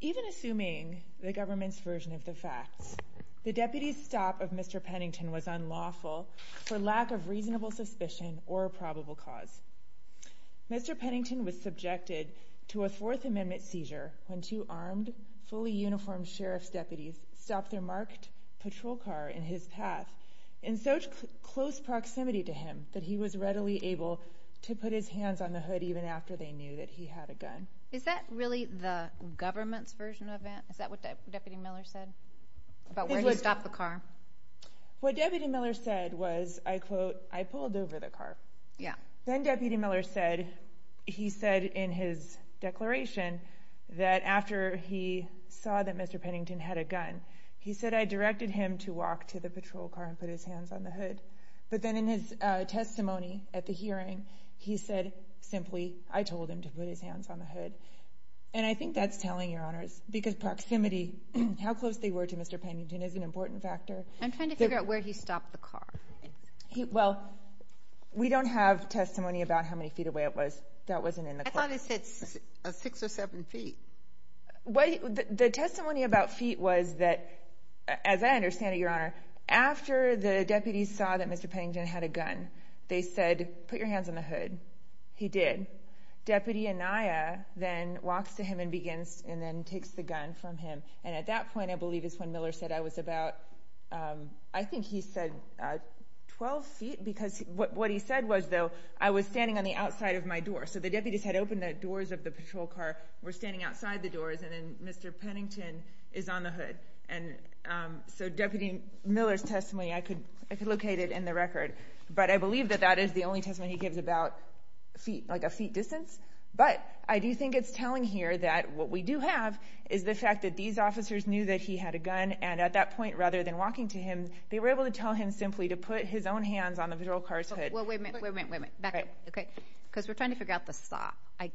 Even assuming the government's version of the facts, the deputy's stop of Mr. Pennington was unlawful for lack of reasonable suspicion or a probable cause. Mr. Pennington was subjected to a Fourth Amendment seizure when two armed, fully uniformed sheriff's deputies stopped their marked patrol car in his path in such close proximity to him that he was readily able to put his hands on the hood even after they knew that he had a gun. Is that really the government's version of that? Is that what Deputy Miller said about where he stopped the car? What Deputy Miller said was, I quote, I pulled over the car. Yeah. Then Deputy Miller said, he said in his declaration that after he saw that Mr. Pennington had a gun, he said, I directed him to walk to the patrol car and put his hands on the hood. But then in his testimony at the hearing, he said simply, I told him to put his hands on the hood. And I think that's telling, Your Honors, because proximity, how close they were to Mr. Pennington is an important factor. I'm trying to figure out where he stopped the car. Well, we don't have testimony about how many feet away it was. That wasn't in the. I thought it said six or seven feet. What the testimony about feet was that, as I understand it, Your Honor, after the deputies saw that Mr. Pennington had a gun, they said, put your hands on the hood. He did. Deputy Anaya then walks to him and begins and then takes the gun from him. And at that point, I believe is when Miller said I was about, I think he said 12 feet, because what he said was, though, I was standing on the outside of my door. So the deputies had opened the doors of the patrol car, were standing outside the doors. And then Mr. Pennington is on the hood. And so Deputy Miller's testimony, I could locate it in the record. But I believe that that is the only testimony he gives about feet, like a feet distance. But I do think it's telling here that what we do have is the fact that these officers knew that he had a gun. And at that point, rather than walking to him, they were able to tell him simply to put his own hands on the patrol car's hood. Well, wait a minute, wait a minute, wait a minute, back up, OK? Because we're trying to figure out the stop. I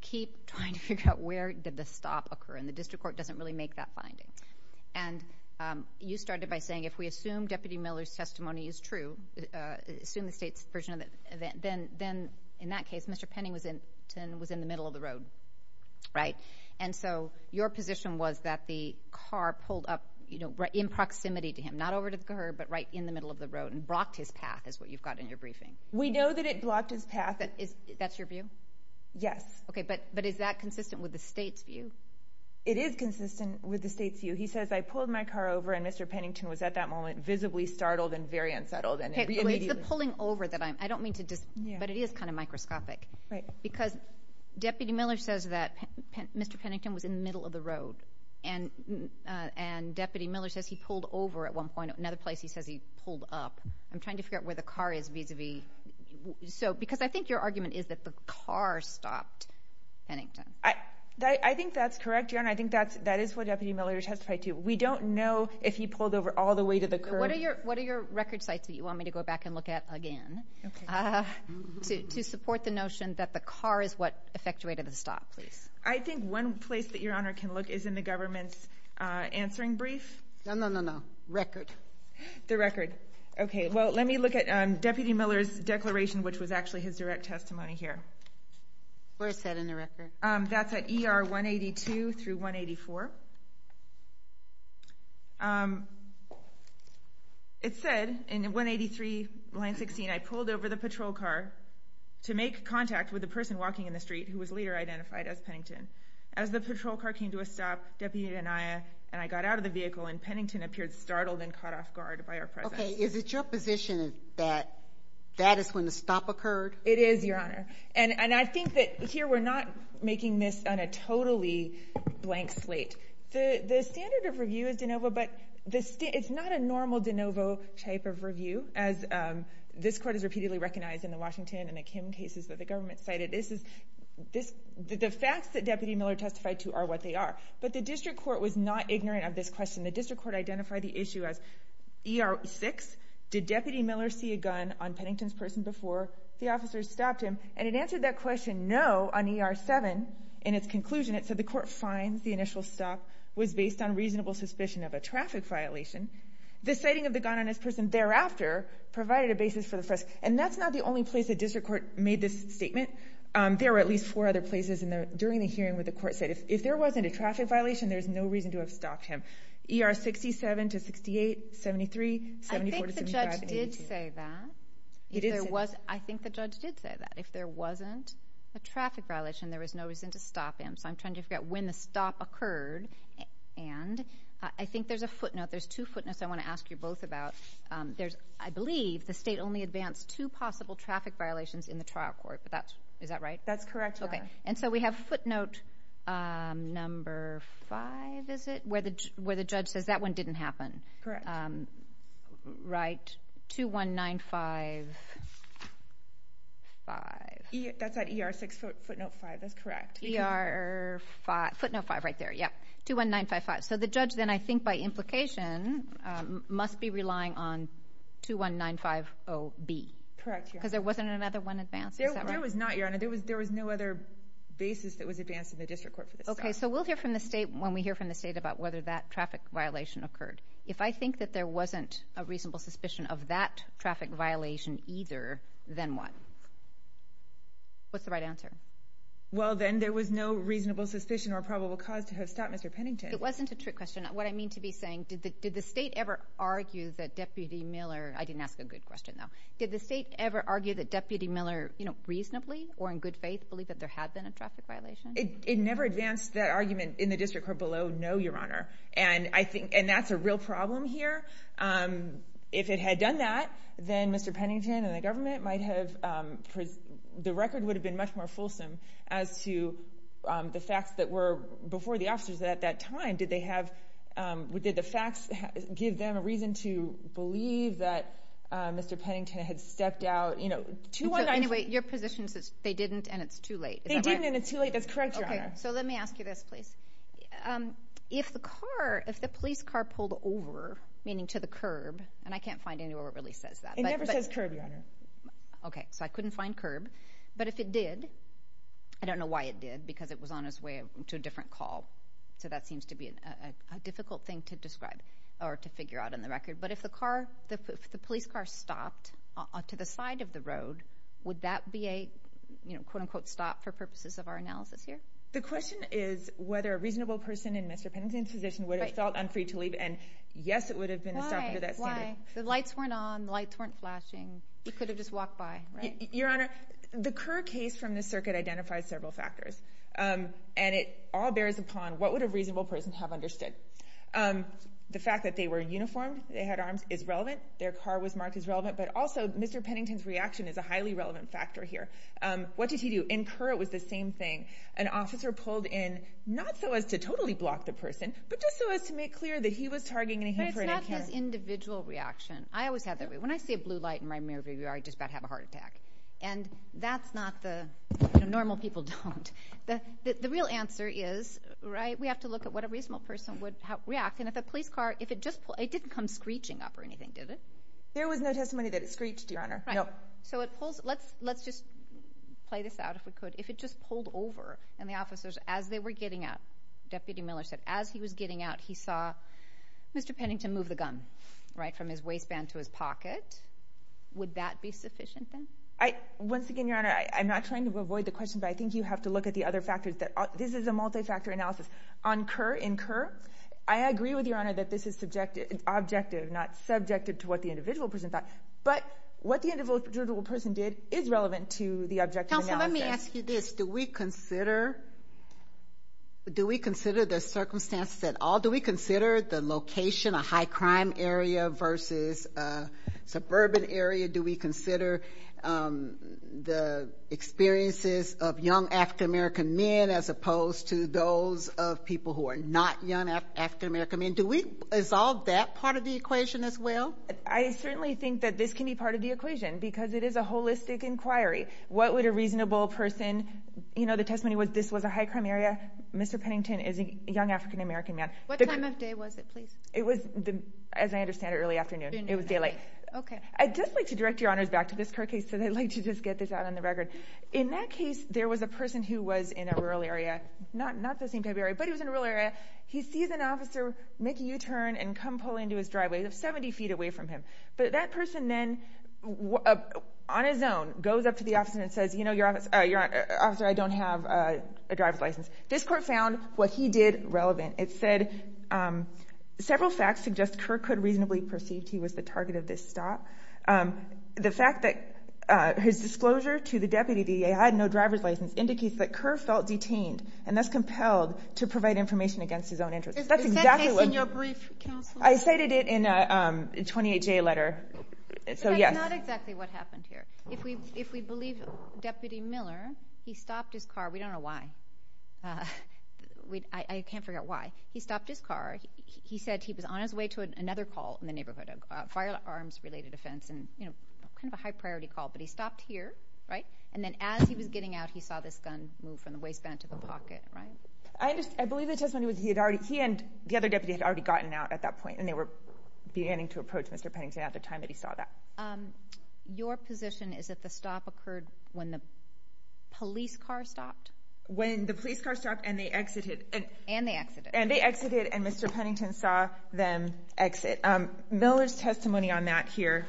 keep trying to figure out where did the stop occur. And the district court doesn't really make that finding. And you started by saying if we assume Deputy Miller's testimony is true, assume the state's version of it, then then in that case, Mr. Pennington was in the middle of the road. Right. And so your position was that the car pulled up in proximity to him, not over to her, but right in the middle of the road and blocked his path is what you've got in your briefing. We know that it blocked his path. That is that's your view. Yes. OK, but but is that consistent with the state's view? It is consistent with the state's view. He says, I pulled my car over and Mr. Pennington was at that moment visibly startled and very unsettled. And it's the pulling over that I'm I don't mean to, but it is kind of microscopic because Deputy Miller says that Mr. Pennington was in the middle of the road. And and Deputy Miller says he pulled over at one point, another place. He says he pulled up. I'm trying to figure out where the car is vis-a-vis so because I think your argument is that the car stopped. Pennington, I think that's correct. And I think that's that is what Deputy Miller testified to. We don't know if he pulled over all the way to the curb. What are your what are your record sites that you want me to go back and look at again to support the notion that the car is what effectuated the stop? Please. I think one place that your honor can look is in the government's answering brief. No, no, no, no. Record the record. OK, well, let me look at Deputy Miller's declaration, which was actually his direct testimony here. Where is that in the record? That's at ER 182 through 184. It said in 183 line 16, I pulled over the patrol car to make contact with the person walking in the street who was later identified as Pennington. As the patrol car came to a stop, Deputy and I and I got out of the vehicle and Pennington appeared startled and caught off guard by our. Is it your position that that is when the stop occurred? It is, your honor. And I think that here we're not making this on a totally blank slate. The standard of review is de novo, but it's not a normal de novo type of review. As this court is repeatedly recognized in the Washington and the Kim cases that the government cited, this is this the facts that Deputy Miller testified to are what they are. But the district court was not ignorant of this question. The district court identified the issue as ER 6. Did Deputy Miller see a gun on Pennington's person before the officers stopped him? And it answered that question. No. On ER 7, in its conclusion, it said the court finds the initial stop was based on reasonable suspicion of a traffic violation. The sighting of the gun on his person thereafter provided a basis for the first. And that's not the only place the district court made this statement. There are at least four other places. And during the hearing with the court said, if there wasn't a traffic violation, there's no reason to have stopped him. ER 67 to 68, 73, 74 to 75, 82. I think the judge did say that, if there wasn't a traffic violation, there was no reason to stop him. So I'm trying to figure out when the stop occurred. And I think there's a footnote. There's two footnotes I want to ask you both about. There's, I believe, the state only advanced two possible traffic violations in the trial court. But that's, is that right? That's correct. Okay. And so we have footnote number five, is it? Where the judge says that one didn't happen. Correct. Right. 21955. That's at ER 6 footnote five. That's correct. ER 5, footnote five right there. Yeah. 21955. So the judge then, I think by implication, must be relying on 21950B. Correct, Your Honor. Because there wasn't another one advanced. Is that right? There was not, Your Honor. There was no other basis that was advanced in the district court for the stop. Okay. So we'll hear from the state when we hear from the state about whether that traffic violation occurred. If I think that there wasn't a reasonable suspicion of that traffic violation either, then what? What's the right answer? Well, then there was no reasonable suspicion or probable cause to have stopped Mr. Pennington. It wasn't a trick question. What I mean to be saying, did the state ever argue that Deputy Miller, I didn't ask a good question though, did the state ever argue that Deputy Miller, you know, reasonably or in good faith, believe that there had been a traffic violation? It never advanced that argument in the district court below no, Your Honor. And I think, and that's a real problem here. If it had done that, then Mr. Pennington and the government might have, the record would have been much more fulsome as to the facts that were before the officers at that time. Did they have, did the facts give them a reason to believe that Mr. Pennington had stepped out, you know, 219- So anyway, your position is that they didn't and it's too late. They didn't and it's too late. That's correct, Your Honor. So let me ask you this, please. If the car, if the police car pulled over, meaning to the curb, and I can't find anywhere where it really says that. It never says curb, Your Honor. Okay. So I couldn't find curb. But if it did, I don't know why it did because it was on its way to a different call. So that seems to be a difficult thing to describe or to figure out in the record. But if the car, if the police car stopped to the side of the road, would that be a, you know, quote unquote stop for purposes of our analysis here? The question is whether a reasonable person in Mr. Pennington's position would have felt unfree to leave. And yes, it would have been a stop under that standard. Why? Why? The lights weren't on. The lights weren't flashing. He could have just walked by, right? Your Honor, the current case from this circuit identifies several factors. And it all bears upon what would a reasonable person have understood. The fact that they were uniformed, they had arms, is relevant. Their car was marked as relevant. But also, Mr. Pennington's reaction is a highly relevant factor here. What did he do? Incur it was the same thing. An officer pulled in, not so as to totally block the person, but just so as to make clear that he was targeting a human. But it's not his individual reaction. I always have that way. When I see a blue light in my mirror, I just about have a heart attack. And that's not the, you know, normal people don't. The real answer is, right, we have to look at what a reasonable person would react. And if a police car, if it just pulled, it didn't come screeching up or anything, did it? There was no testimony that it screeched, Your Honor. Right. So it pulls, let's just play this out if we could. If it just pulled over and the officers, as they were getting out, Deputy Miller said, as he was getting out, he saw Mr. Pennington move the gun, right, from his waistband to his pocket. Would that be sufficient then? I, once again, Your Honor, I'm not trying to avoid the question, but I think you have to look at the other factors that, this is a multi-factor analysis. On Kerr, in Kerr, I agree with Your Honor that this is subjective, objective, not subjective to what the individual person thought. But what the individual person did is relevant to the objective analysis. Counsel, let me ask you this. Do we consider, do we consider the circumstances at all? Do we consider the location, a high crime area versus a suburban area? Do we consider the experiences of young African-American men as opposed to those of people who are not young African-American men? Do we resolve that part of the equation as well? I certainly think that this can be part of the equation because it is a holistic inquiry. What would a reasonable person, you know, the testimony was this was a high crime area. Mr. Pennington is a young African-American man. What time of day was it, please? It was, as I understand it, early afternoon. It was daylight. Okay. I'd just like to direct Your Honors back to this Kerr case, so I'd like to just get this out on the record. In that case, there was a person who was in a rural area, not the same type of area, but he was in a rural area. He sees an officer make a U-turn and come pull into his driveway. It was 70 feet away from him. But that person then, on his own, goes up to the officer and says, you know, officer, I don't have a driver's license. This court found what he did relevant. It said, several facts suggest Kerr could reasonably perceive he was the target of this attack. The fact that his disclosure to the deputy, that he had no driver's license, indicates that Kerr felt detained and thus compelled to provide information against his own interests. Is that case in your brief, counsel? I cited it in a 28-J letter. So, yes. That's not exactly what happened here. If we believe Deputy Miller, he stopped his car. We don't know why. I can't figure out why. He stopped his car. He said he was on his way to another call in the neighborhood, firearms-related offense, and, you know, kind of a high-priority call. But he stopped here, right? And then as he was getting out, he saw this gun move from the waistband to the pocket, right? I believe the testimony was he and the other deputy had already gotten out at that point, and they were beginning to approach Mr. Pennington at the time that he saw that. Your position is that the stop occurred when the police car stopped? When the police car stopped and they exited. And they exited. And they exited, and Mr. Pennington saw them exit. Miller's testimony on that here.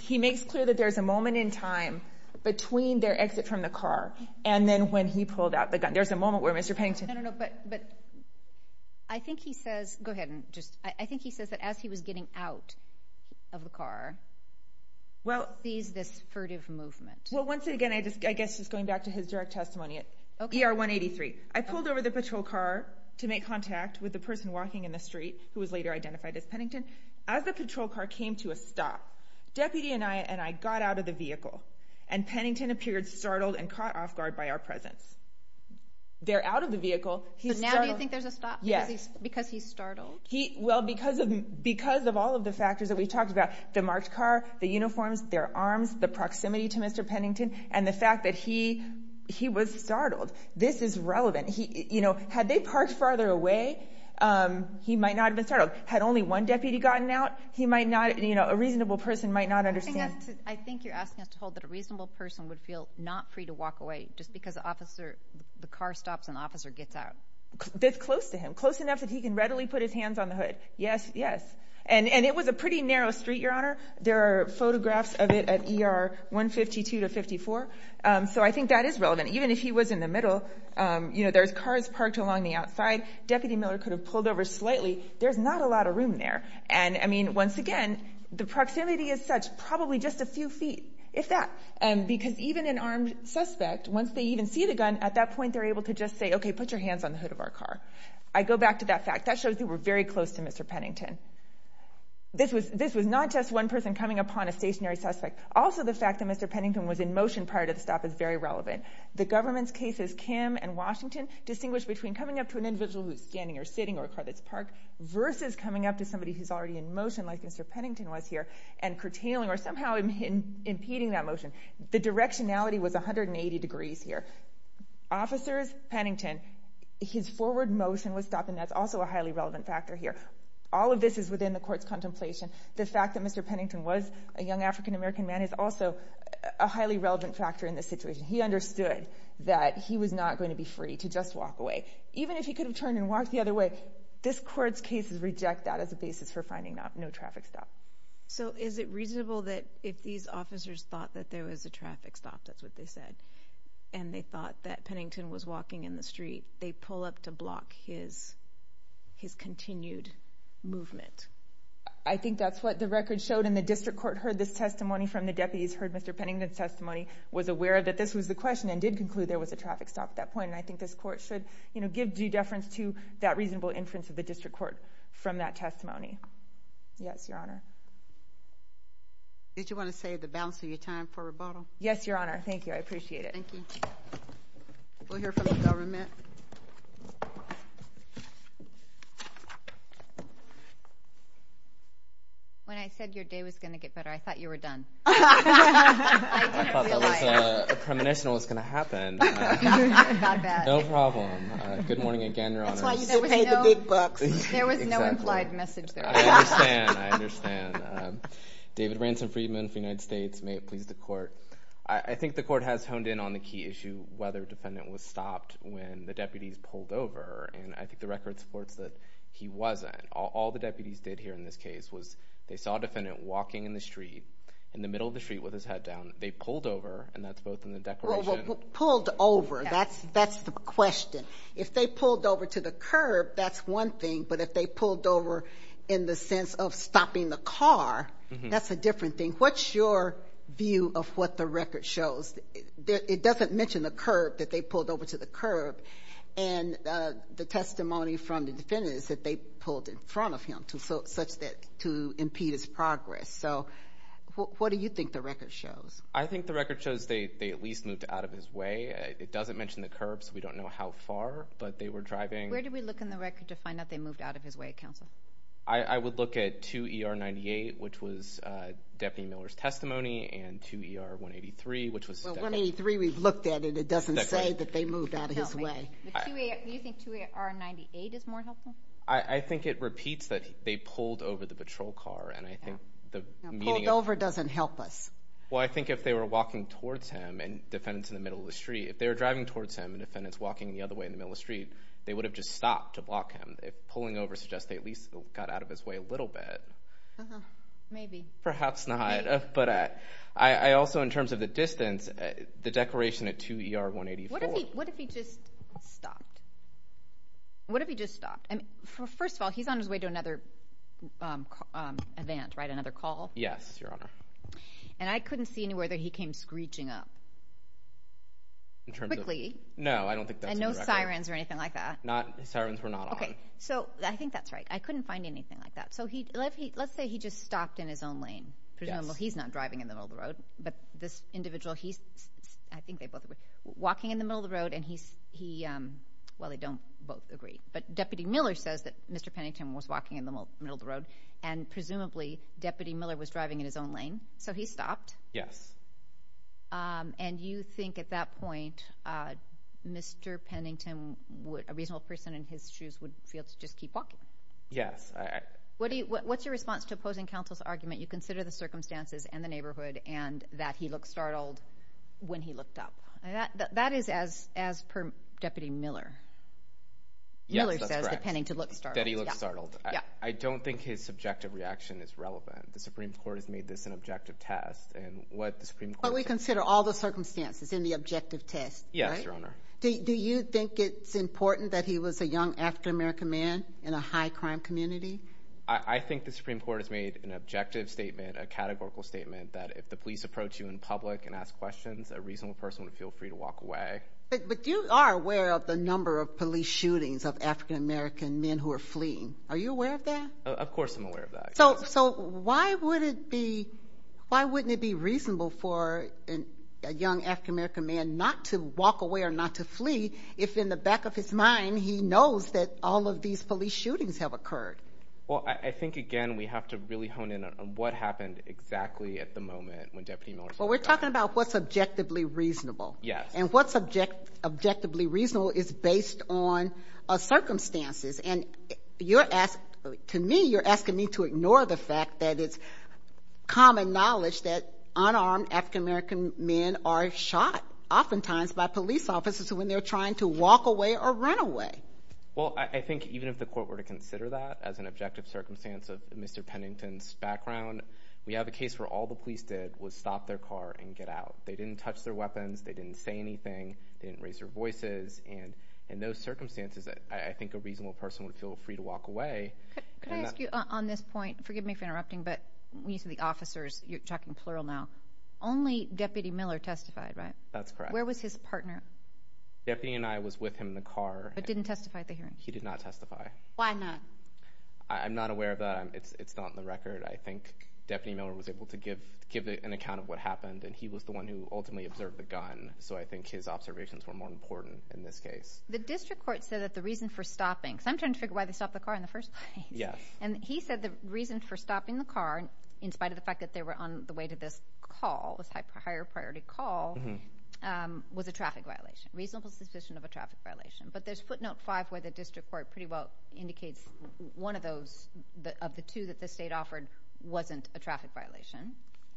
He makes clear that there's a moment in time between their exit from the car and then when he pulled out the gun. There's a moment where Mr. Pennington... I don't know, but I think he says... Go ahead and just... I think he says that as he was getting out of the car, he sees this furtive movement. Well, once again, I guess just going back to his direct testimony at ER 183. I pulled over the patrol car to make contact with the person walking in the street, who was later identified as Pennington. As the patrol car came to a stop, deputy and I got out of the vehicle, and Pennington appeared startled and caught off guard by our presence. They're out of the vehicle. But now do you think there's a stop? Yes. Because he's startled? Well, because of all of the factors that we talked about. The marked car, the uniforms, their arms, the proximity to Mr. Pennington, and the fact that he was startled. This is relevant. Had they parked farther away, he might not have been startled. Had only one deputy gotten out, he might not... A reasonable person might not understand. I think you're asking us to hold that a reasonable person would feel not free to walk away just because the car stops and the officer gets out. That's close to him. Close enough that he can readily put his hands on the hood. Yes, yes. And it was a pretty narrow street, Your Honor. There are photographs of it at ER 152 to 54. So I think that is relevant. Even if he was in the middle, you know, there's cars parked along the outside. Deputy Miller could have pulled over slightly. There's not a lot of room there. And, I mean, once again, the proximity is such probably just a few feet, if that. Because even an armed suspect, once they even see the gun, at that point they're able to just say, okay, put your hands on the hood of our car. I go back to that fact. That shows they were very close to Mr. Pennington. This was not just one person coming upon a stationary suspect. Also, the fact that Mr. Pennington was in motion prior to the stop is very relevant. The government's cases, Kim and Washington, distinguish between coming up to an individual who's standing or sitting or a car that's parked versus coming up to somebody who's already in motion, like Mr. Pennington was here, and curtailing or somehow impeding that motion. The directionality was 180 degrees here. Officers, Pennington, his forward motion was stopped, and that's also a highly relevant factor here. All of this is within the court's contemplation. The fact that Mr. Pennington was a young African-American man is also a highly relevant factor in this situation. He understood that he was not going to be free to just walk away. Even if he could have turned and walked the other way, this court's cases reject that as a basis for finding no traffic stop. Is it reasonable that if these officers thought that there was a traffic stop, that's what they said, and they thought that Pennington was walking in the street, they pull up to block his continued movement? I think that's what the record showed, and the district court heard this testimony from the deputies, heard Mr. Pennington's testimony, was aware of that. This was the question and did conclude there was a traffic stop at that point, and I think this court should give due deference to that reasonable inference of the district court from that testimony. Yes, Your Honor. Did you want to save the balance of your time for rebuttal? Yes, Your Honor. Thank you. I appreciate it. Thank you. We'll hear from the government. When I said your day was going to get better, I thought you were done. I didn't realize. I thought that was a premonition of what was going to happen. No problem. Good morning again, Your Honor. That's why you still paid the big bucks. There was no implied message there. I understand. I understand. David Ransom Friedman for the United States. May it please the court. I think the court has honed in on the key issue, whether defendant was stopped when the deputies pulled over, and I think the record supports that he wasn't. All the deputies did here in this case was they saw a defendant walking in the street, in the middle of the street with his head down. They pulled over, and that's both in the declaration. Pulled over. That's the question. If they pulled over to the curb, that's one thing, but if they pulled over in the sense of stopping the car, that's a different thing. What's your view of what the record shows? It doesn't mention the curb, that they pulled over to the curb, and the testimony from the defendant is that they pulled in front of him such that to impede his progress. So, what do you think the record shows? I think the record shows they at least moved out of his way. It doesn't mention the curb, so we don't know how far, but they were driving. Where do we look in the record to find out they moved out of his way, counsel? I would look at 2ER98, which was Deputy Miller's testimony, and 2ER183, which was- Well, 183 we've looked at, and it doesn't say that they moved out of his way. Do you think 2ER98 is more helpful? I think it repeats that they pulled over the patrol car, and I think the meaning of- Pulled over doesn't help us. Well, I think if they were walking towards him, and defendants in the middle of the street, if they were driving towards him and defendants walking the other way in the middle of the street, they would have just stopped to block him. If pulling over suggests they at least got out of his way a little bit. Maybe. Perhaps not, but I also, in terms of the distance, the declaration at 2ER184- What if he just stopped? What if he just stopped? First of all, he's on his way to another event, right? Another call? Yes, Your Honor. And I couldn't see anywhere that he came screeching up. In terms of- Quickly. No, I don't think that's correct. And no sirens or anything like that. Not- Sirens were not on. Okay, so I think that's right. I couldn't find anything like that. So let's say he just stopped in his own lane. Presumably he's not driving in the middle of the road, but this individual, he's- I think they both agree. Walking in the middle of the road, and he- Well, they don't both agree. But Deputy Miller says that Mr. Pennington was walking in the middle of the road, and presumably Deputy Miller was driving in his own lane. So he stopped. Yes. And you think at that point, Mr. Pennington, a reasonable person in his shoes, would feel to just keep walking? Yes. What's your response to opposing counsel's argument? You consider the circumstances and the neighborhood, and that he looked startled when he looked up. That is as per Deputy Miller. Yes, that's correct. Miller says, depending to look startled. That he looked startled. I don't think his subjective reaction is relevant. The Supreme Court has made this an objective test, and what the Supreme Court- But we consider all the circumstances in the objective test, right? Yes, Your Honor. Do you think it's important that he was a young, African-American man in a high-crime community? I think the Supreme Court has made an objective statement, a categorical statement, that if the police approach you in public and ask questions, a reasonable person would feel free to walk away. But you are aware of the number of police shootings of African-American men who are fleeing. Are you aware of that? Of course, I'm aware of that. So why wouldn't it be reasonable for a young African-American man not to walk away or not to flee if in the back of his mind he knows that all of these police shootings have occurred? Well, I think, again, we have to really hone in on what happened exactly at the moment when Deputy Miller- Well, we're talking about what's objectively reasonable. Yes. And what's objectively reasonable is based on circumstances. And to me, you're asking me to ignore the fact that it's common knowledge that unarmed African-American men are shot oftentimes by police officers when they're trying to walk away or run away. Well, I think even if the court were to consider that as an objective circumstance of Mr. Pennington's background, we have a case where all the police did was stop their car and get out. They didn't touch their weapons. They didn't say anything. They didn't raise their voices. And in those circumstances, I think a reasonable person would feel free to walk away. Could I ask you on this point? Forgive me for interrupting, but when you say the officers, you're talking plural now. Only Deputy Miller testified, right? That's correct. Where was his partner? Deputy and I was with him in the car. But didn't testify at the hearing? He did not testify. Why not? I'm not aware of that. It's not in the record. I think Deputy Miller was able to give an account of what happened. And he was the one who ultimately observed the gun. So I think his observations were more important in this case. The district court said that the reason for stopping, because I'm trying to figure why they stopped the car in the first place. Yes. And he said the reason for stopping the car, in spite of the fact that they were on the way to this call, this higher priority call, was a traffic violation. Reasonable suspicion of a traffic violation. But there's footnote five where the district court pretty well indicates one of those, of the two that the state offered, wasn't a traffic violation,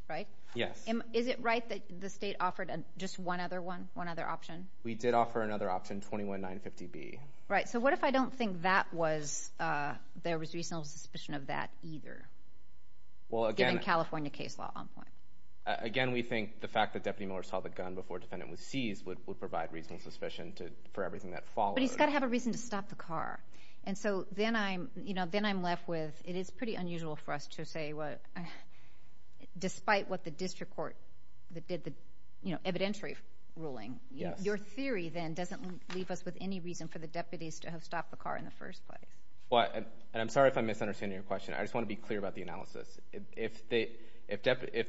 right? Yes. Is it right that the state offered just one other one? One other option? We did offer another option, 21-950-B. Right. So what if I don't think there was reasonable suspicion of that either? Well, again... Given California case law on point. Again, we think the fact that Deputy Miller saw the gun before defendant was seized would provide reasonable suspicion for everything that followed. But he's got to have a reason to stop the car. And so then I'm left with, it is pretty unusual for us to say, despite what the district court that did the evidentiary ruling, your theory then doesn't leave us with any reason for the deputies to have stopped the car in the first place. Well, and I'm sorry if I'm misunderstanding your question. I just want to be clear about the analysis. If the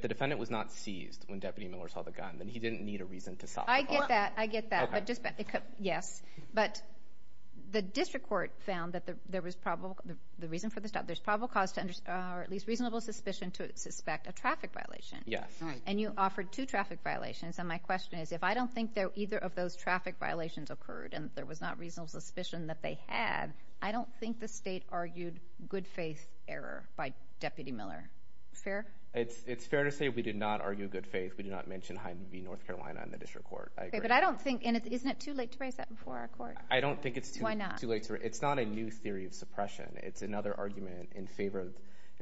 defendant was not seized when Deputy Miller saw the gun, then he didn't need a reason to stop. I get that. I get that. Yes. But the district court found that there was probable, the reason for the stop, there's probable cause or at least reasonable suspicion to suspect a traffic violation. Yes. And you offered two traffic violations. And my question is, if I don't think that either of those traffic violations occurred and there was not reasonable suspicion that they had, I don't think the state argued good faith error by Deputy Miller. Fair? It's fair to say we did not argue good faith. We did not mention Hyde and V North Carolina in the district court. I agree. But I don't think, and isn't it too late to raise that before our court? I don't think it's too late. It's not a new theory of suppression. It's another argument in favor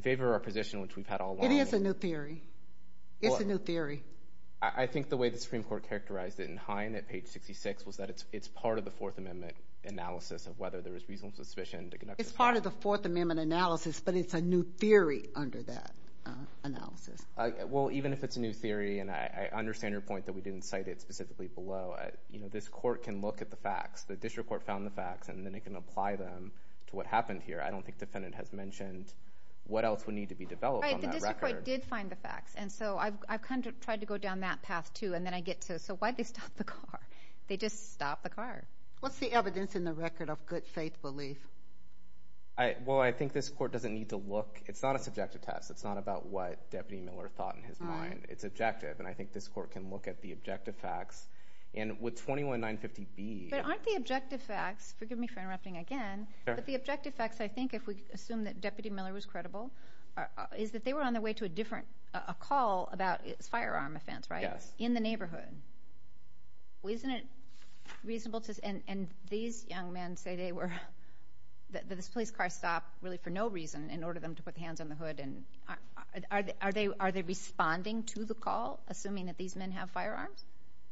of our position, which we've had all along. It is a new theory. It's a new theory. I think the way the Supreme Court characterized it in Hine at page 66 was that it's part of the Fourth Amendment analysis of whether there was reasonable suspicion to conduct a stop. It's part of the Fourth Amendment analysis, but it's a new theory under that analysis. Well, even if it's a new theory, and I understand your point that we didn't cite it specifically below, this court can look at the facts. The district court found the facts, and then it can apply them to what happened here. I don't think the defendant has mentioned what else would need to be developed on that record. Right, the district court did find the facts. And so I've kind of tried to go down that path too, and then I get to, so why'd they stop the car? They just stopped the car. What's the evidence in the record of good faith belief? Well, I think this court doesn't need to look. It's not a subjective test. It's not about what Deputy Miller thought in his mind. It's objective. And I think this court can look at the objective facts. And with 21950B. But aren't the objective facts, forgive me for interrupting again, but the objective facts, I think, if we assume that Deputy Miller was credible, is that they were on their way to a different, a call about a firearm offense, right? Yes. In the neighborhood. Isn't it reasonable to, and these young men say they were, that this police car stopped really for no reason in order for them to put their hands on the hood. And are they responding to the call, assuming that these men have firearms?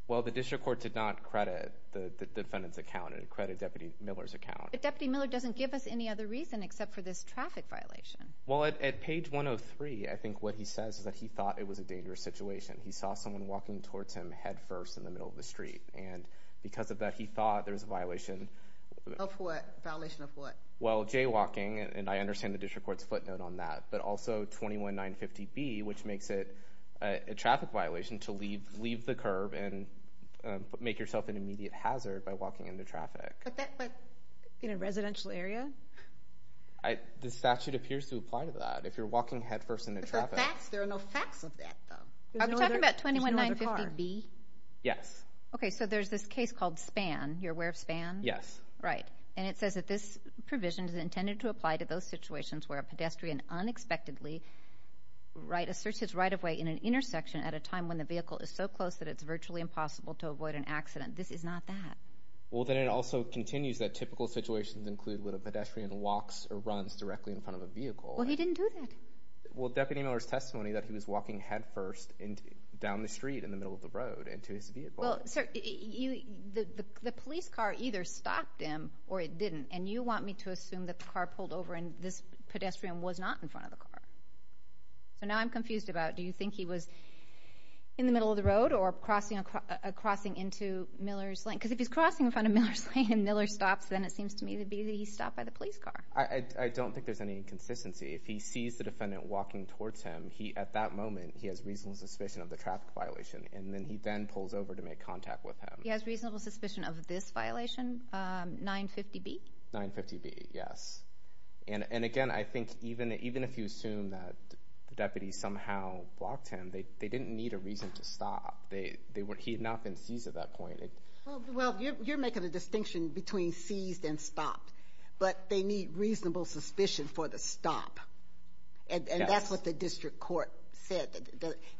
Well, the district court did not credit the defendant's account. Credit Deputy Miller's account. But Deputy Miller doesn't give us any other reason except for this traffic violation. Well, at page 103, I think what he says is that he thought it was a dangerous situation. He saw someone walking towards him head first in the middle of the street. And because of that, he thought there was a violation. Of what? Violation of what? Well, jaywalking. And I understand the district court's footnote on that. But also 21950B, which makes it a traffic violation to leave the curb and make yourself an immediate hazard by walking into traffic. In a residential area? The statute appears to apply to that. If you're walking head first into traffic. There are no facts of that, though. Are we talking about 21950B? Yes. Okay, so there's this case called Span. You're aware of Span? Yes. Right. And it says that this provision is intended to apply to those situations where a pedestrian unexpectedly asserts his right-of-way in an intersection at a time when the vehicle is so close that it's virtually impossible to avoid an accident. This is not that. Well, then it also continues that typical situations include when a pedestrian walks or runs directly in front of a vehicle. Well, he didn't do that. Well, Deputy Miller's testimony that he was walking head first down the street in the middle of the road into his vehicle. Well, sir, the police car either stopped him or it didn't. And you want me to assume that the car pulled over and this pedestrian was not in front of the car. So now I'm confused about, do you think he was in the middle of the road or crossing into Miller's Lane? Because if he's crossing in front of Miller's Lane and Miller stops, then it seems to me to be that he stopped by the police car. I don't think there's any inconsistency. If he sees the defendant walking towards him, at that moment, he has reasonable suspicion of the traffic violation. And then he then pulls over to make contact with him. He has reasonable suspicion of this violation, 950B? 950B, yes. And again, I think even if you assume that the deputy somehow blocked him, they didn't need a reason to stop. They were, he had not been seized at that point. Well, you're making a distinction between seized and stopped, but they need reasonable suspicion for the stop. And that's what the district court said.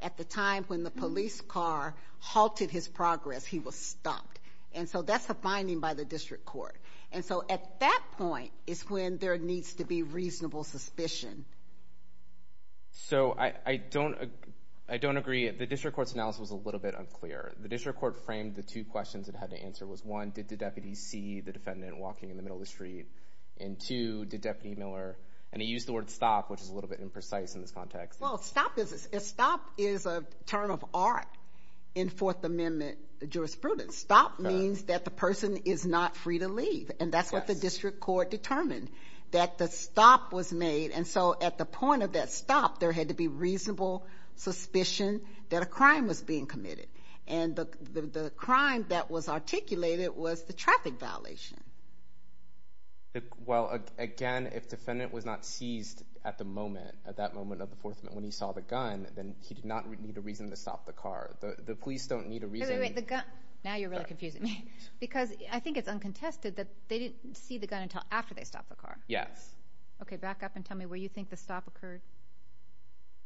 At the time when the police car halted his progress, he was stopped. And so that's the finding by the district court. And so at that point is when there needs to be reasonable suspicion. So I don't agree. The district court's analysis was a little bit unclear. The district court framed the two questions it had to answer was one, did the deputy see the defendant walking in the middle of the street? And two, did Deputy Miller, and he used the word stop, which is a little bit imprecise in this context. Well, stop is a term of art in Fourth Amendment jurisprudence. Stop means that the person is not free to leave. And that's what the district court determined, that the stop was made. And so at the point of that stop, there had to be reasonable suspicion that a crime was being committed. And the crime that was articulated was the traffic violation. Well, again, if defendant was not seized at the moment, at that moment of the Fourth Amendment, when he saw the gun, then he did not need a reason to stop the car. The police don't need a reason. Wait, wait, wait, the gun. Now you're really confusing me. Because I think it's uncontested that they didn't see the gun until after they stopped the car. Yes. Okay, back up and tell me where you think the stop occurred.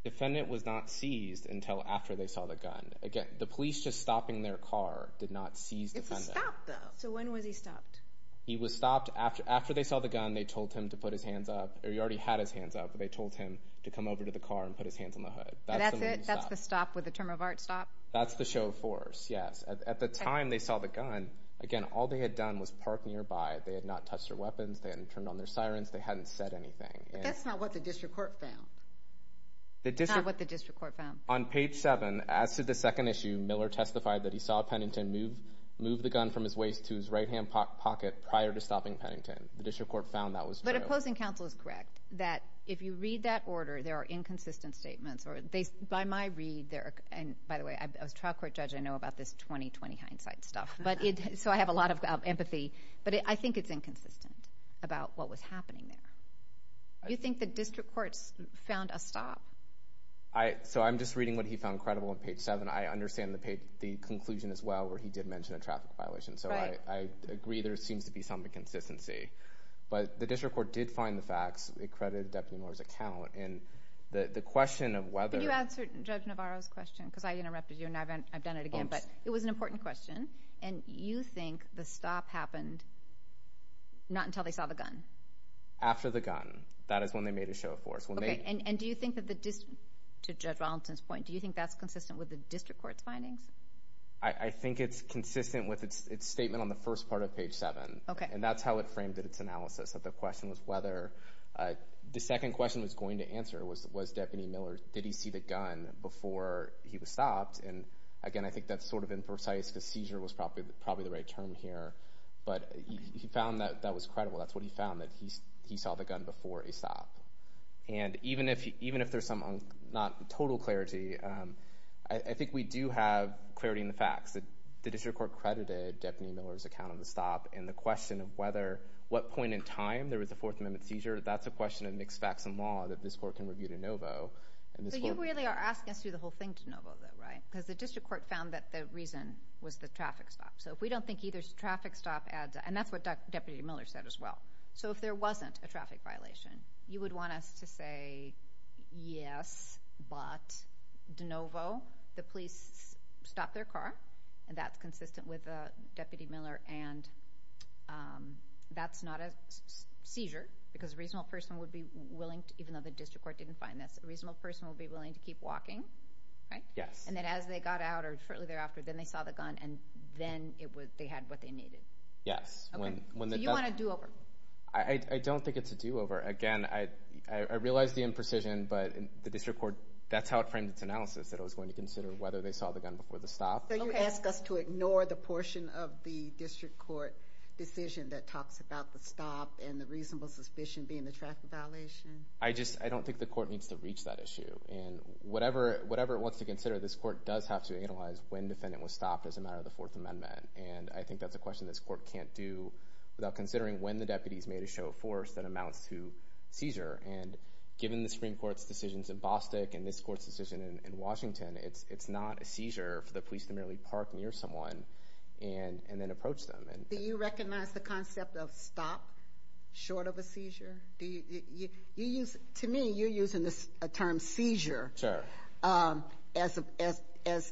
Defendant was not seized until after they saw the gun. Again, the police just stopping their car did not seize defendant. If he stopped, though. So when was he stopped? He was stopped after they saw the gun, they told him to put his hands up, or he already had his hands up, but they told him to come over to the car and put his hands on the hood. That's it? That's the stop with the term of art stop? That's the show of force, yes. At the time they saw the gun, again, all they had done was park nearby. They had not touched their weapons. They hadn't turned on their sirens. They hadn't said anything. But that's not what the district court found. Not what the district court found. On page seven, as to the second issue, Miller testified that he saw Pennington move the gun from his waist to his right hand pocket prior to stopping Pennington. The district court found that was true. But opposing counsel is correct, that if you read that order, there are inconsistent statements. By my read, and by the way, as a trial court judge, I know about this 20-20 hindsight stuff. So I have a lot of empathy, but I think it's inconsistent about what was happening there. You think the district court found a stop? So I'm just reading what he found credible on page seven. I understand the conclusion as well, where he did mention a traffic violation. So I agree there seems to be some inconsistency. But the district court did find the facts. It credited Deputy Miller's account. And the question of whether- But you answered Judge Navarro's question, because I interrupted you, and I've done it again. But it was an important question. And you think the stop happened not until they saw the gun? After the gun. That is when they made a show of force. Okay, and do you think that the district- To Judge Ronaldson's point, do you think that's consistent with the district court's findings? I think it's consistent with its statement on the first part of page seven. Okay. And that's how it framed its analysis, that the question was whether- The second question was going to answer was Deputy Miller, did he see the gun before he was stopped? And again, I think that's sort of imprecise, because seizure was probably the right term here. But he found that that was credible. That's what he found, that he saw the gun before he stopped. And even if there's some not total clarity, I think we do have clarity in the facts. The district court credited Deputy Miller's account of the stop. And the question of whether, what point in time there was a Fourth Amendment seizure, that's a question of mixed facts and law that this court can review to NOVO. And this court- But you really are asking us to do the whole thing to NOVO though, right? Because the district court found that the reason was the traffic stop. If we don't think either traffic stop adds- And that's what Deputy Miller said as well. So if there wasn't a traffic violation, you would want us to say, yes, but to NOVO, the police stopped their car. And that's consistent with Deputy Miller. And that's not a seizure, because a reasonable person would be willing to, even though the district court didn't find this, a reasonable person would be willing to keep walking, right? Yes. And then as they got out, or shortly thereafter, then they saw the gun, and then they had what they needed. Yes. So you want a do-over? I don't think it's a do-over. Again, I realized the imprecision, but the district court, that's how it framed its analysis, that it was going to consider whether they saw the gun before the stop. So you ask us to ignore the portion of the district court decision that talks about the stop and the reasonable suspicion being the traffic violation? I just, I don't think the court needs to reach that issue. And whatever it wants to consider, this court does have to analyze when defendant was stopped as a matter of the Fourth Amendment. And I think that's a question this court can't do without considering when the deputies made a show of force that amounts to seizure. And given the Supreme Court's decisions in Bostick and this court's decision in Washington, it's not a seizure for the police to merely park near someone and then approach them. Do you recognize the concept of stop short of a seizure? Do you, you use, to me, you're using this term seizure as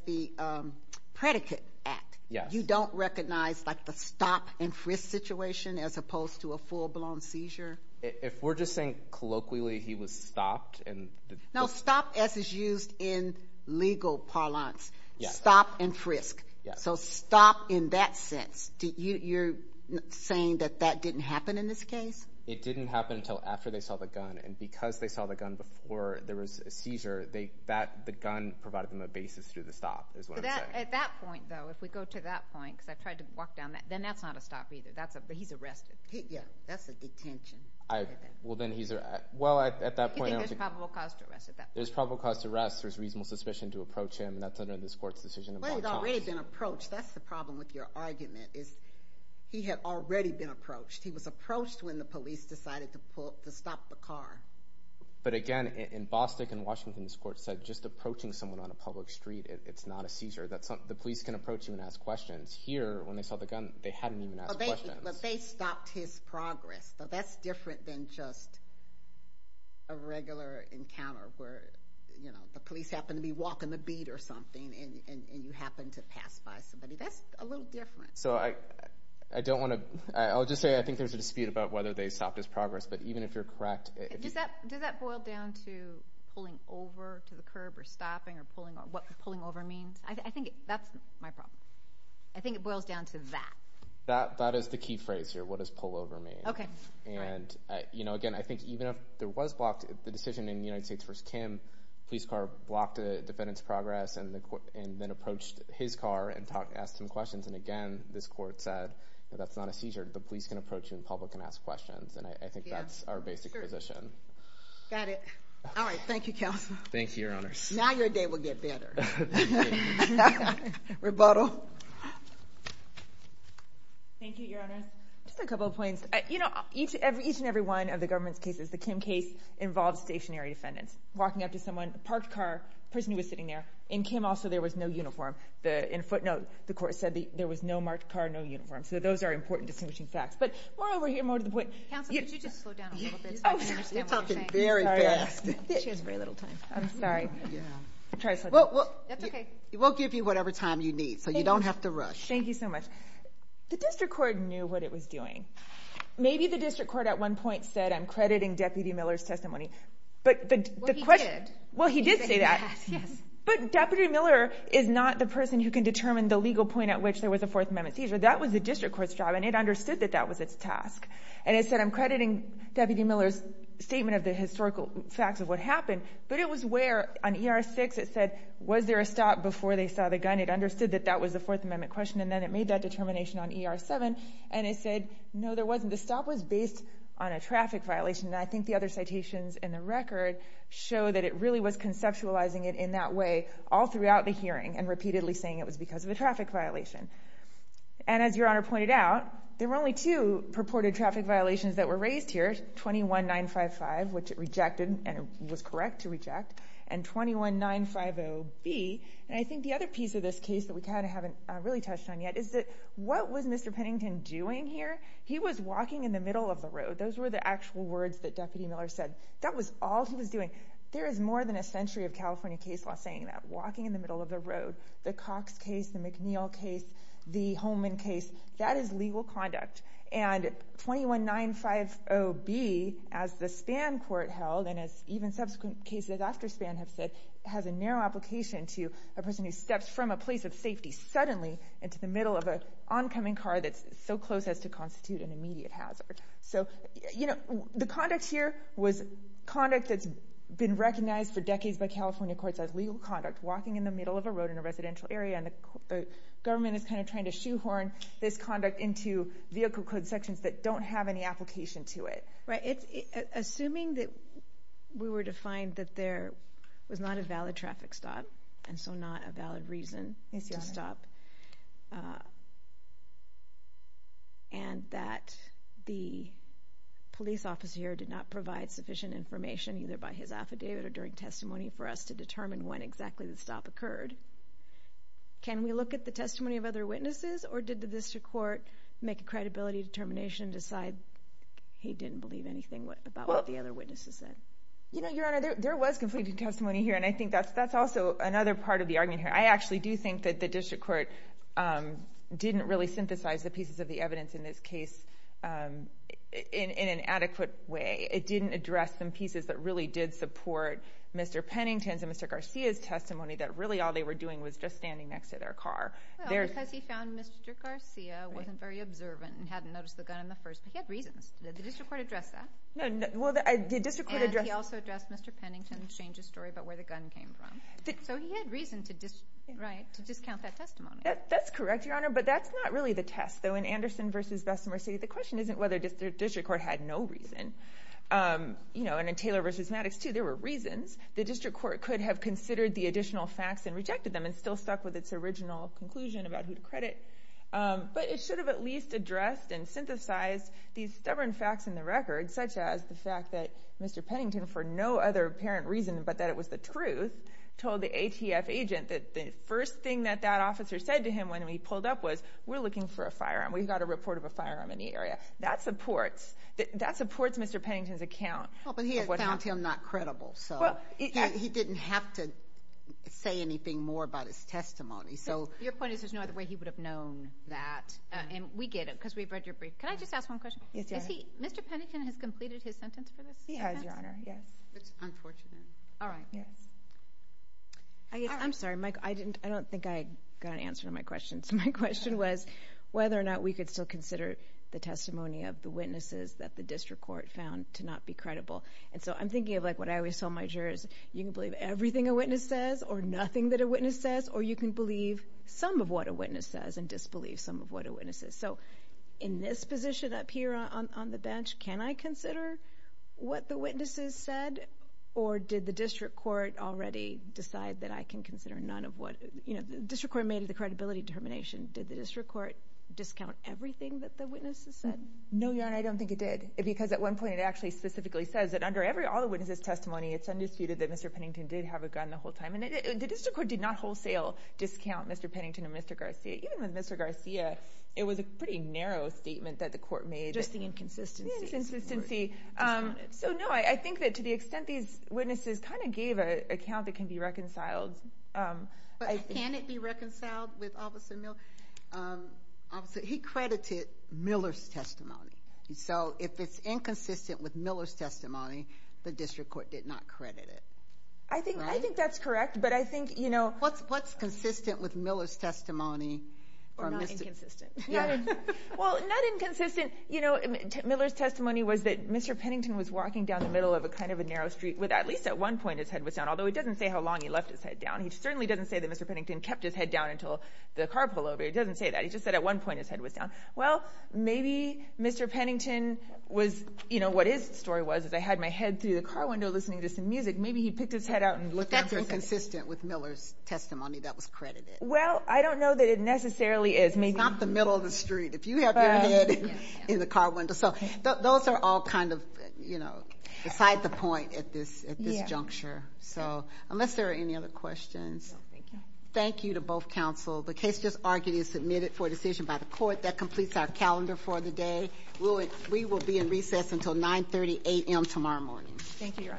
the predicate act. Yes. You don't recognize like the stop and frisk situation as opposed to a full blown seizure? If we're just saying colloquially he was stopped and- No, stop as is used in legal parlance. Stop and frisk. So stop in that sense. You're saying that that didn't happen in this case? It didn't happen until after they saw the gun. And because they saw the gun before there was a seizure, the gun provided them a basis through the stop, is what I'm saying. At that point though, if we go to that point, because I've tried to walk down that, then that's not a stop either. That's a, but he's arrested. Yeah, that's a detention. Well, then he's, well, at that point- You think there's probable cause to arrest at that point? There's probable cause to arrest. There's reasonable suspicion to approach him. That's under this court's decision. But he's already been approached. That's the problem with your argument is he had already been approached. He was approached when the police decided to pull, to stop the car. But again, in Bostick and Washington's court said, just approaching someone on a public street, it's not a seizure. That's not, the police can approach you and ask questions. Here, when they saw the gun, they hadn't even asked questions. But they stopped his progress. So that's different than just a regular encounter where, you know, the police happen to be walking the beat or something and you happen to pass by somebody. That's a little different. So I don't want to, I'll just say, I think there's a dispute about whether they stopped his progress. But even if you're correct- Does that boil down to pulling over to the curb or stopping or what pulling over means? I think that's my problem. I think it boils down to that. That is the key phrase here. What does pull over mean? Okay. And, you know, again, I think even if there was blocked, the decision in United States v. Kim, police car blocked a defendant's progress and then approached his car and asked him questions. And again, this court said, that's not a seizure. The police can approach you in public and ask questions. And I think that's our basic position. Got it. All right. Thank you, Counselor. Thank you, Your Honor. Now your day will get better. Rebuttal. Thank you, Your Honor. Just a couple of points. You know, each and every one of the government's cases, the Kim case involves stationary defendants walking up to someone, parked car, person who was sitting there. In Kim also, there was no uniform. The footnote, the court said there was no marked car, no uniform. So those are important distinguishing facts. But more over here, more to the point- Counselor, could you just slow down a little bit? You're talking very fast. She has very little time. I'm sorry. We'll give you whatever time you need. So you don't have to rush. Thank you so much. The district court knew what it was doing. Maybe the district court at one point said, I'm crediting Deputy Miller's testimony. But the question- Well, he did. Well, he did say that. But Deputy Miller is not the person who can determine the legal point at which there was a Fourth Amendment seizure. That was the district court's job. And it understood that that was its task. And it said, I'm crediting Deputy Miller's statement of the historical facts of what happened. But it was where on ER 6, it said, was there a stop before they saw the gun? It understood that that was the Fourth Amendment question. And then it made that determination on ER 7. And it said, no, there wasn't. The stop was based on a traffic violation. And I think the other citations in the record show that it really was conceptualizing it in that way all throughout the hearing and repeatedly saying it was because of a traffic violation. And as Your Honor pointed out, there were only two purported traffic violations that were raised here, 21955, which it rejected and was correct to reject, and 21950B. And I think the other piece of this case that we kind of haven't really touched on yet is that what was Mr. Pennington doing here? He was walking in the middle of the road. Those were the actual words that Deputy Miller said. That was all he was doing. There is more than a century of California case law saying that, walking in the middle of the road. The Cox case, the McNeil case, the Holman case, that is legal conduct. And 21950B, as the Spann Court held, and as even subsequent cases after Spann have said, has a narrow application to a person who steps from a place of safety suddenly into the middle of an oncoming car that's so close as to constitute an immediate hazard. So, you know, the conduct here was conduct that's been recognized for decades by California courts as legal conduct, walking in the middle of a road in a residential area. And the government is kind of trying to shoehorn this conduct into vehicle code sections that don't have any application to it. Right. Assuming that we were to find that there was not a valid traffic stop, and so not a valid reason to stop, and that the police officer here did not provide sufficient information, either by his affidavit or during testimony, for us to determine when exactly the stop occurred, can we look at the testimony of other witnesses? Or did the district court make a credibility determination, decide he didn't believe anything about what the other witnesses said? You know, Your Honor, there was completed testimony here, and I think that's also another part of the argument here. I actually do think that the district court didn't really synthesize the pieces of the evidence in this case in an adequate way. It didn't address some pieces that really did support Mr. Pennington's and Mr. Garcia's testimony, that really all they were doing was just standing next to their car. Well, because he found Mr. Garcia wasn't very observant and hadn't noticed the gun in the first, but he had reasons. Did the district court address that? No, well, the district court addressed... And he also addressed Mr. Pennington's change of story about where the gun came from. So he had reason to discount that testimony. That's correct, Your Honor, but that's not really the test, though in Anderson v. Bessemer City, the question isn't whether the district court had no reason. You know, and in Taylor v. Maddox too, there were reasons. The district court could have considered the additional facts and rejected them and still stuck with its original conclusion about who to credit. But it should have at least addressed and synthesized these stubborn facts in the record, such as the fact that Mr. Pennington, for no other apparent reason but that it was the truth, told the ATF agent that the first thing that that officer said to him when he pulled up was, we're looking for a firearm. We've got a report of a firearm in the area. That supports Mr. Pennington's account. Well, but he had found him not credible, so he didn't have to say anything more about his testimony. So your point is, there's no other way he would have known that. And we get it because we've read your brief. Can I just ask one question? Is he, Mr. Pennington has completed his sentence for this? He has, Your Honor, yes. It's unfortunate. All right, yes. I'm sorry, Mike. I didn't, I don't think I got an answer to my question. So my question was whether or not we could still consider the testimony of the witnesses that the district court found to not be credible. And so I'm thinking of like what I always tell my jurors, you can believe everything a witness says or nothing that a witness says, or you can believe some of what a witness says and disbelieve some of what a witness says. So in this position up here on the bench, can I consider what the witnesses said? Or did the district court already decide that I can consider none of what, you know, the district court made the credibility determination. Did the district court discount everything that the witnesses said? No, Your Honor, I don't think it did. Because at one point, it actually specifically says that under all the witnesses testimony, it's undisputed that Mr. Pennington did have a gun the whole time. The district court did not wholesale discount Mr. Pennington and Mr. Garcia. Even with Mr. Garcia, it was a pretty narrow statement Just the inconsistency. The inconsistency. So no, I think that to the extent these witnesses kind of gave an account that can be reconciled. Can it be reconciled with Officer Miller? He credited Miller's testimony. So if it's inconsistent with Miller's testimony, the district court did not credit it. I think I think that's correct. But I think, you know, what's what's consistent with Miller's testimony? Well, not inconsistent. You know, Miller's testimony was that Mr. Pennington was walking down the middle of a kind of a narrow street with at least at one point, his head was down, although it doesn't say how long he left his head down. He certainly doesn't say that Mr. Pennington kept his head down until the car pullover. It doesn't say that. He just said at one point, his head was down. Well, maybe Mr. Pennington was, you know, what his story was, is I had my head through the car window listening to some music. Maybe he picked his head out and looked at it. That's inconsistent with Miller's testimony that was credited. Well, I don't know that it necessarily is. It's not the middle of the street. If you have your head in the car window. So those are all kind of, you know, beside the point at this at this juncture. So unless there are any other questions. Thank you to both counsel. The case just argued is submitted for decision by the court that completes our calendar for the day. We will be in recess until 9 30 a.m. tomorrow morning. Thank you, Your Honor. All rise.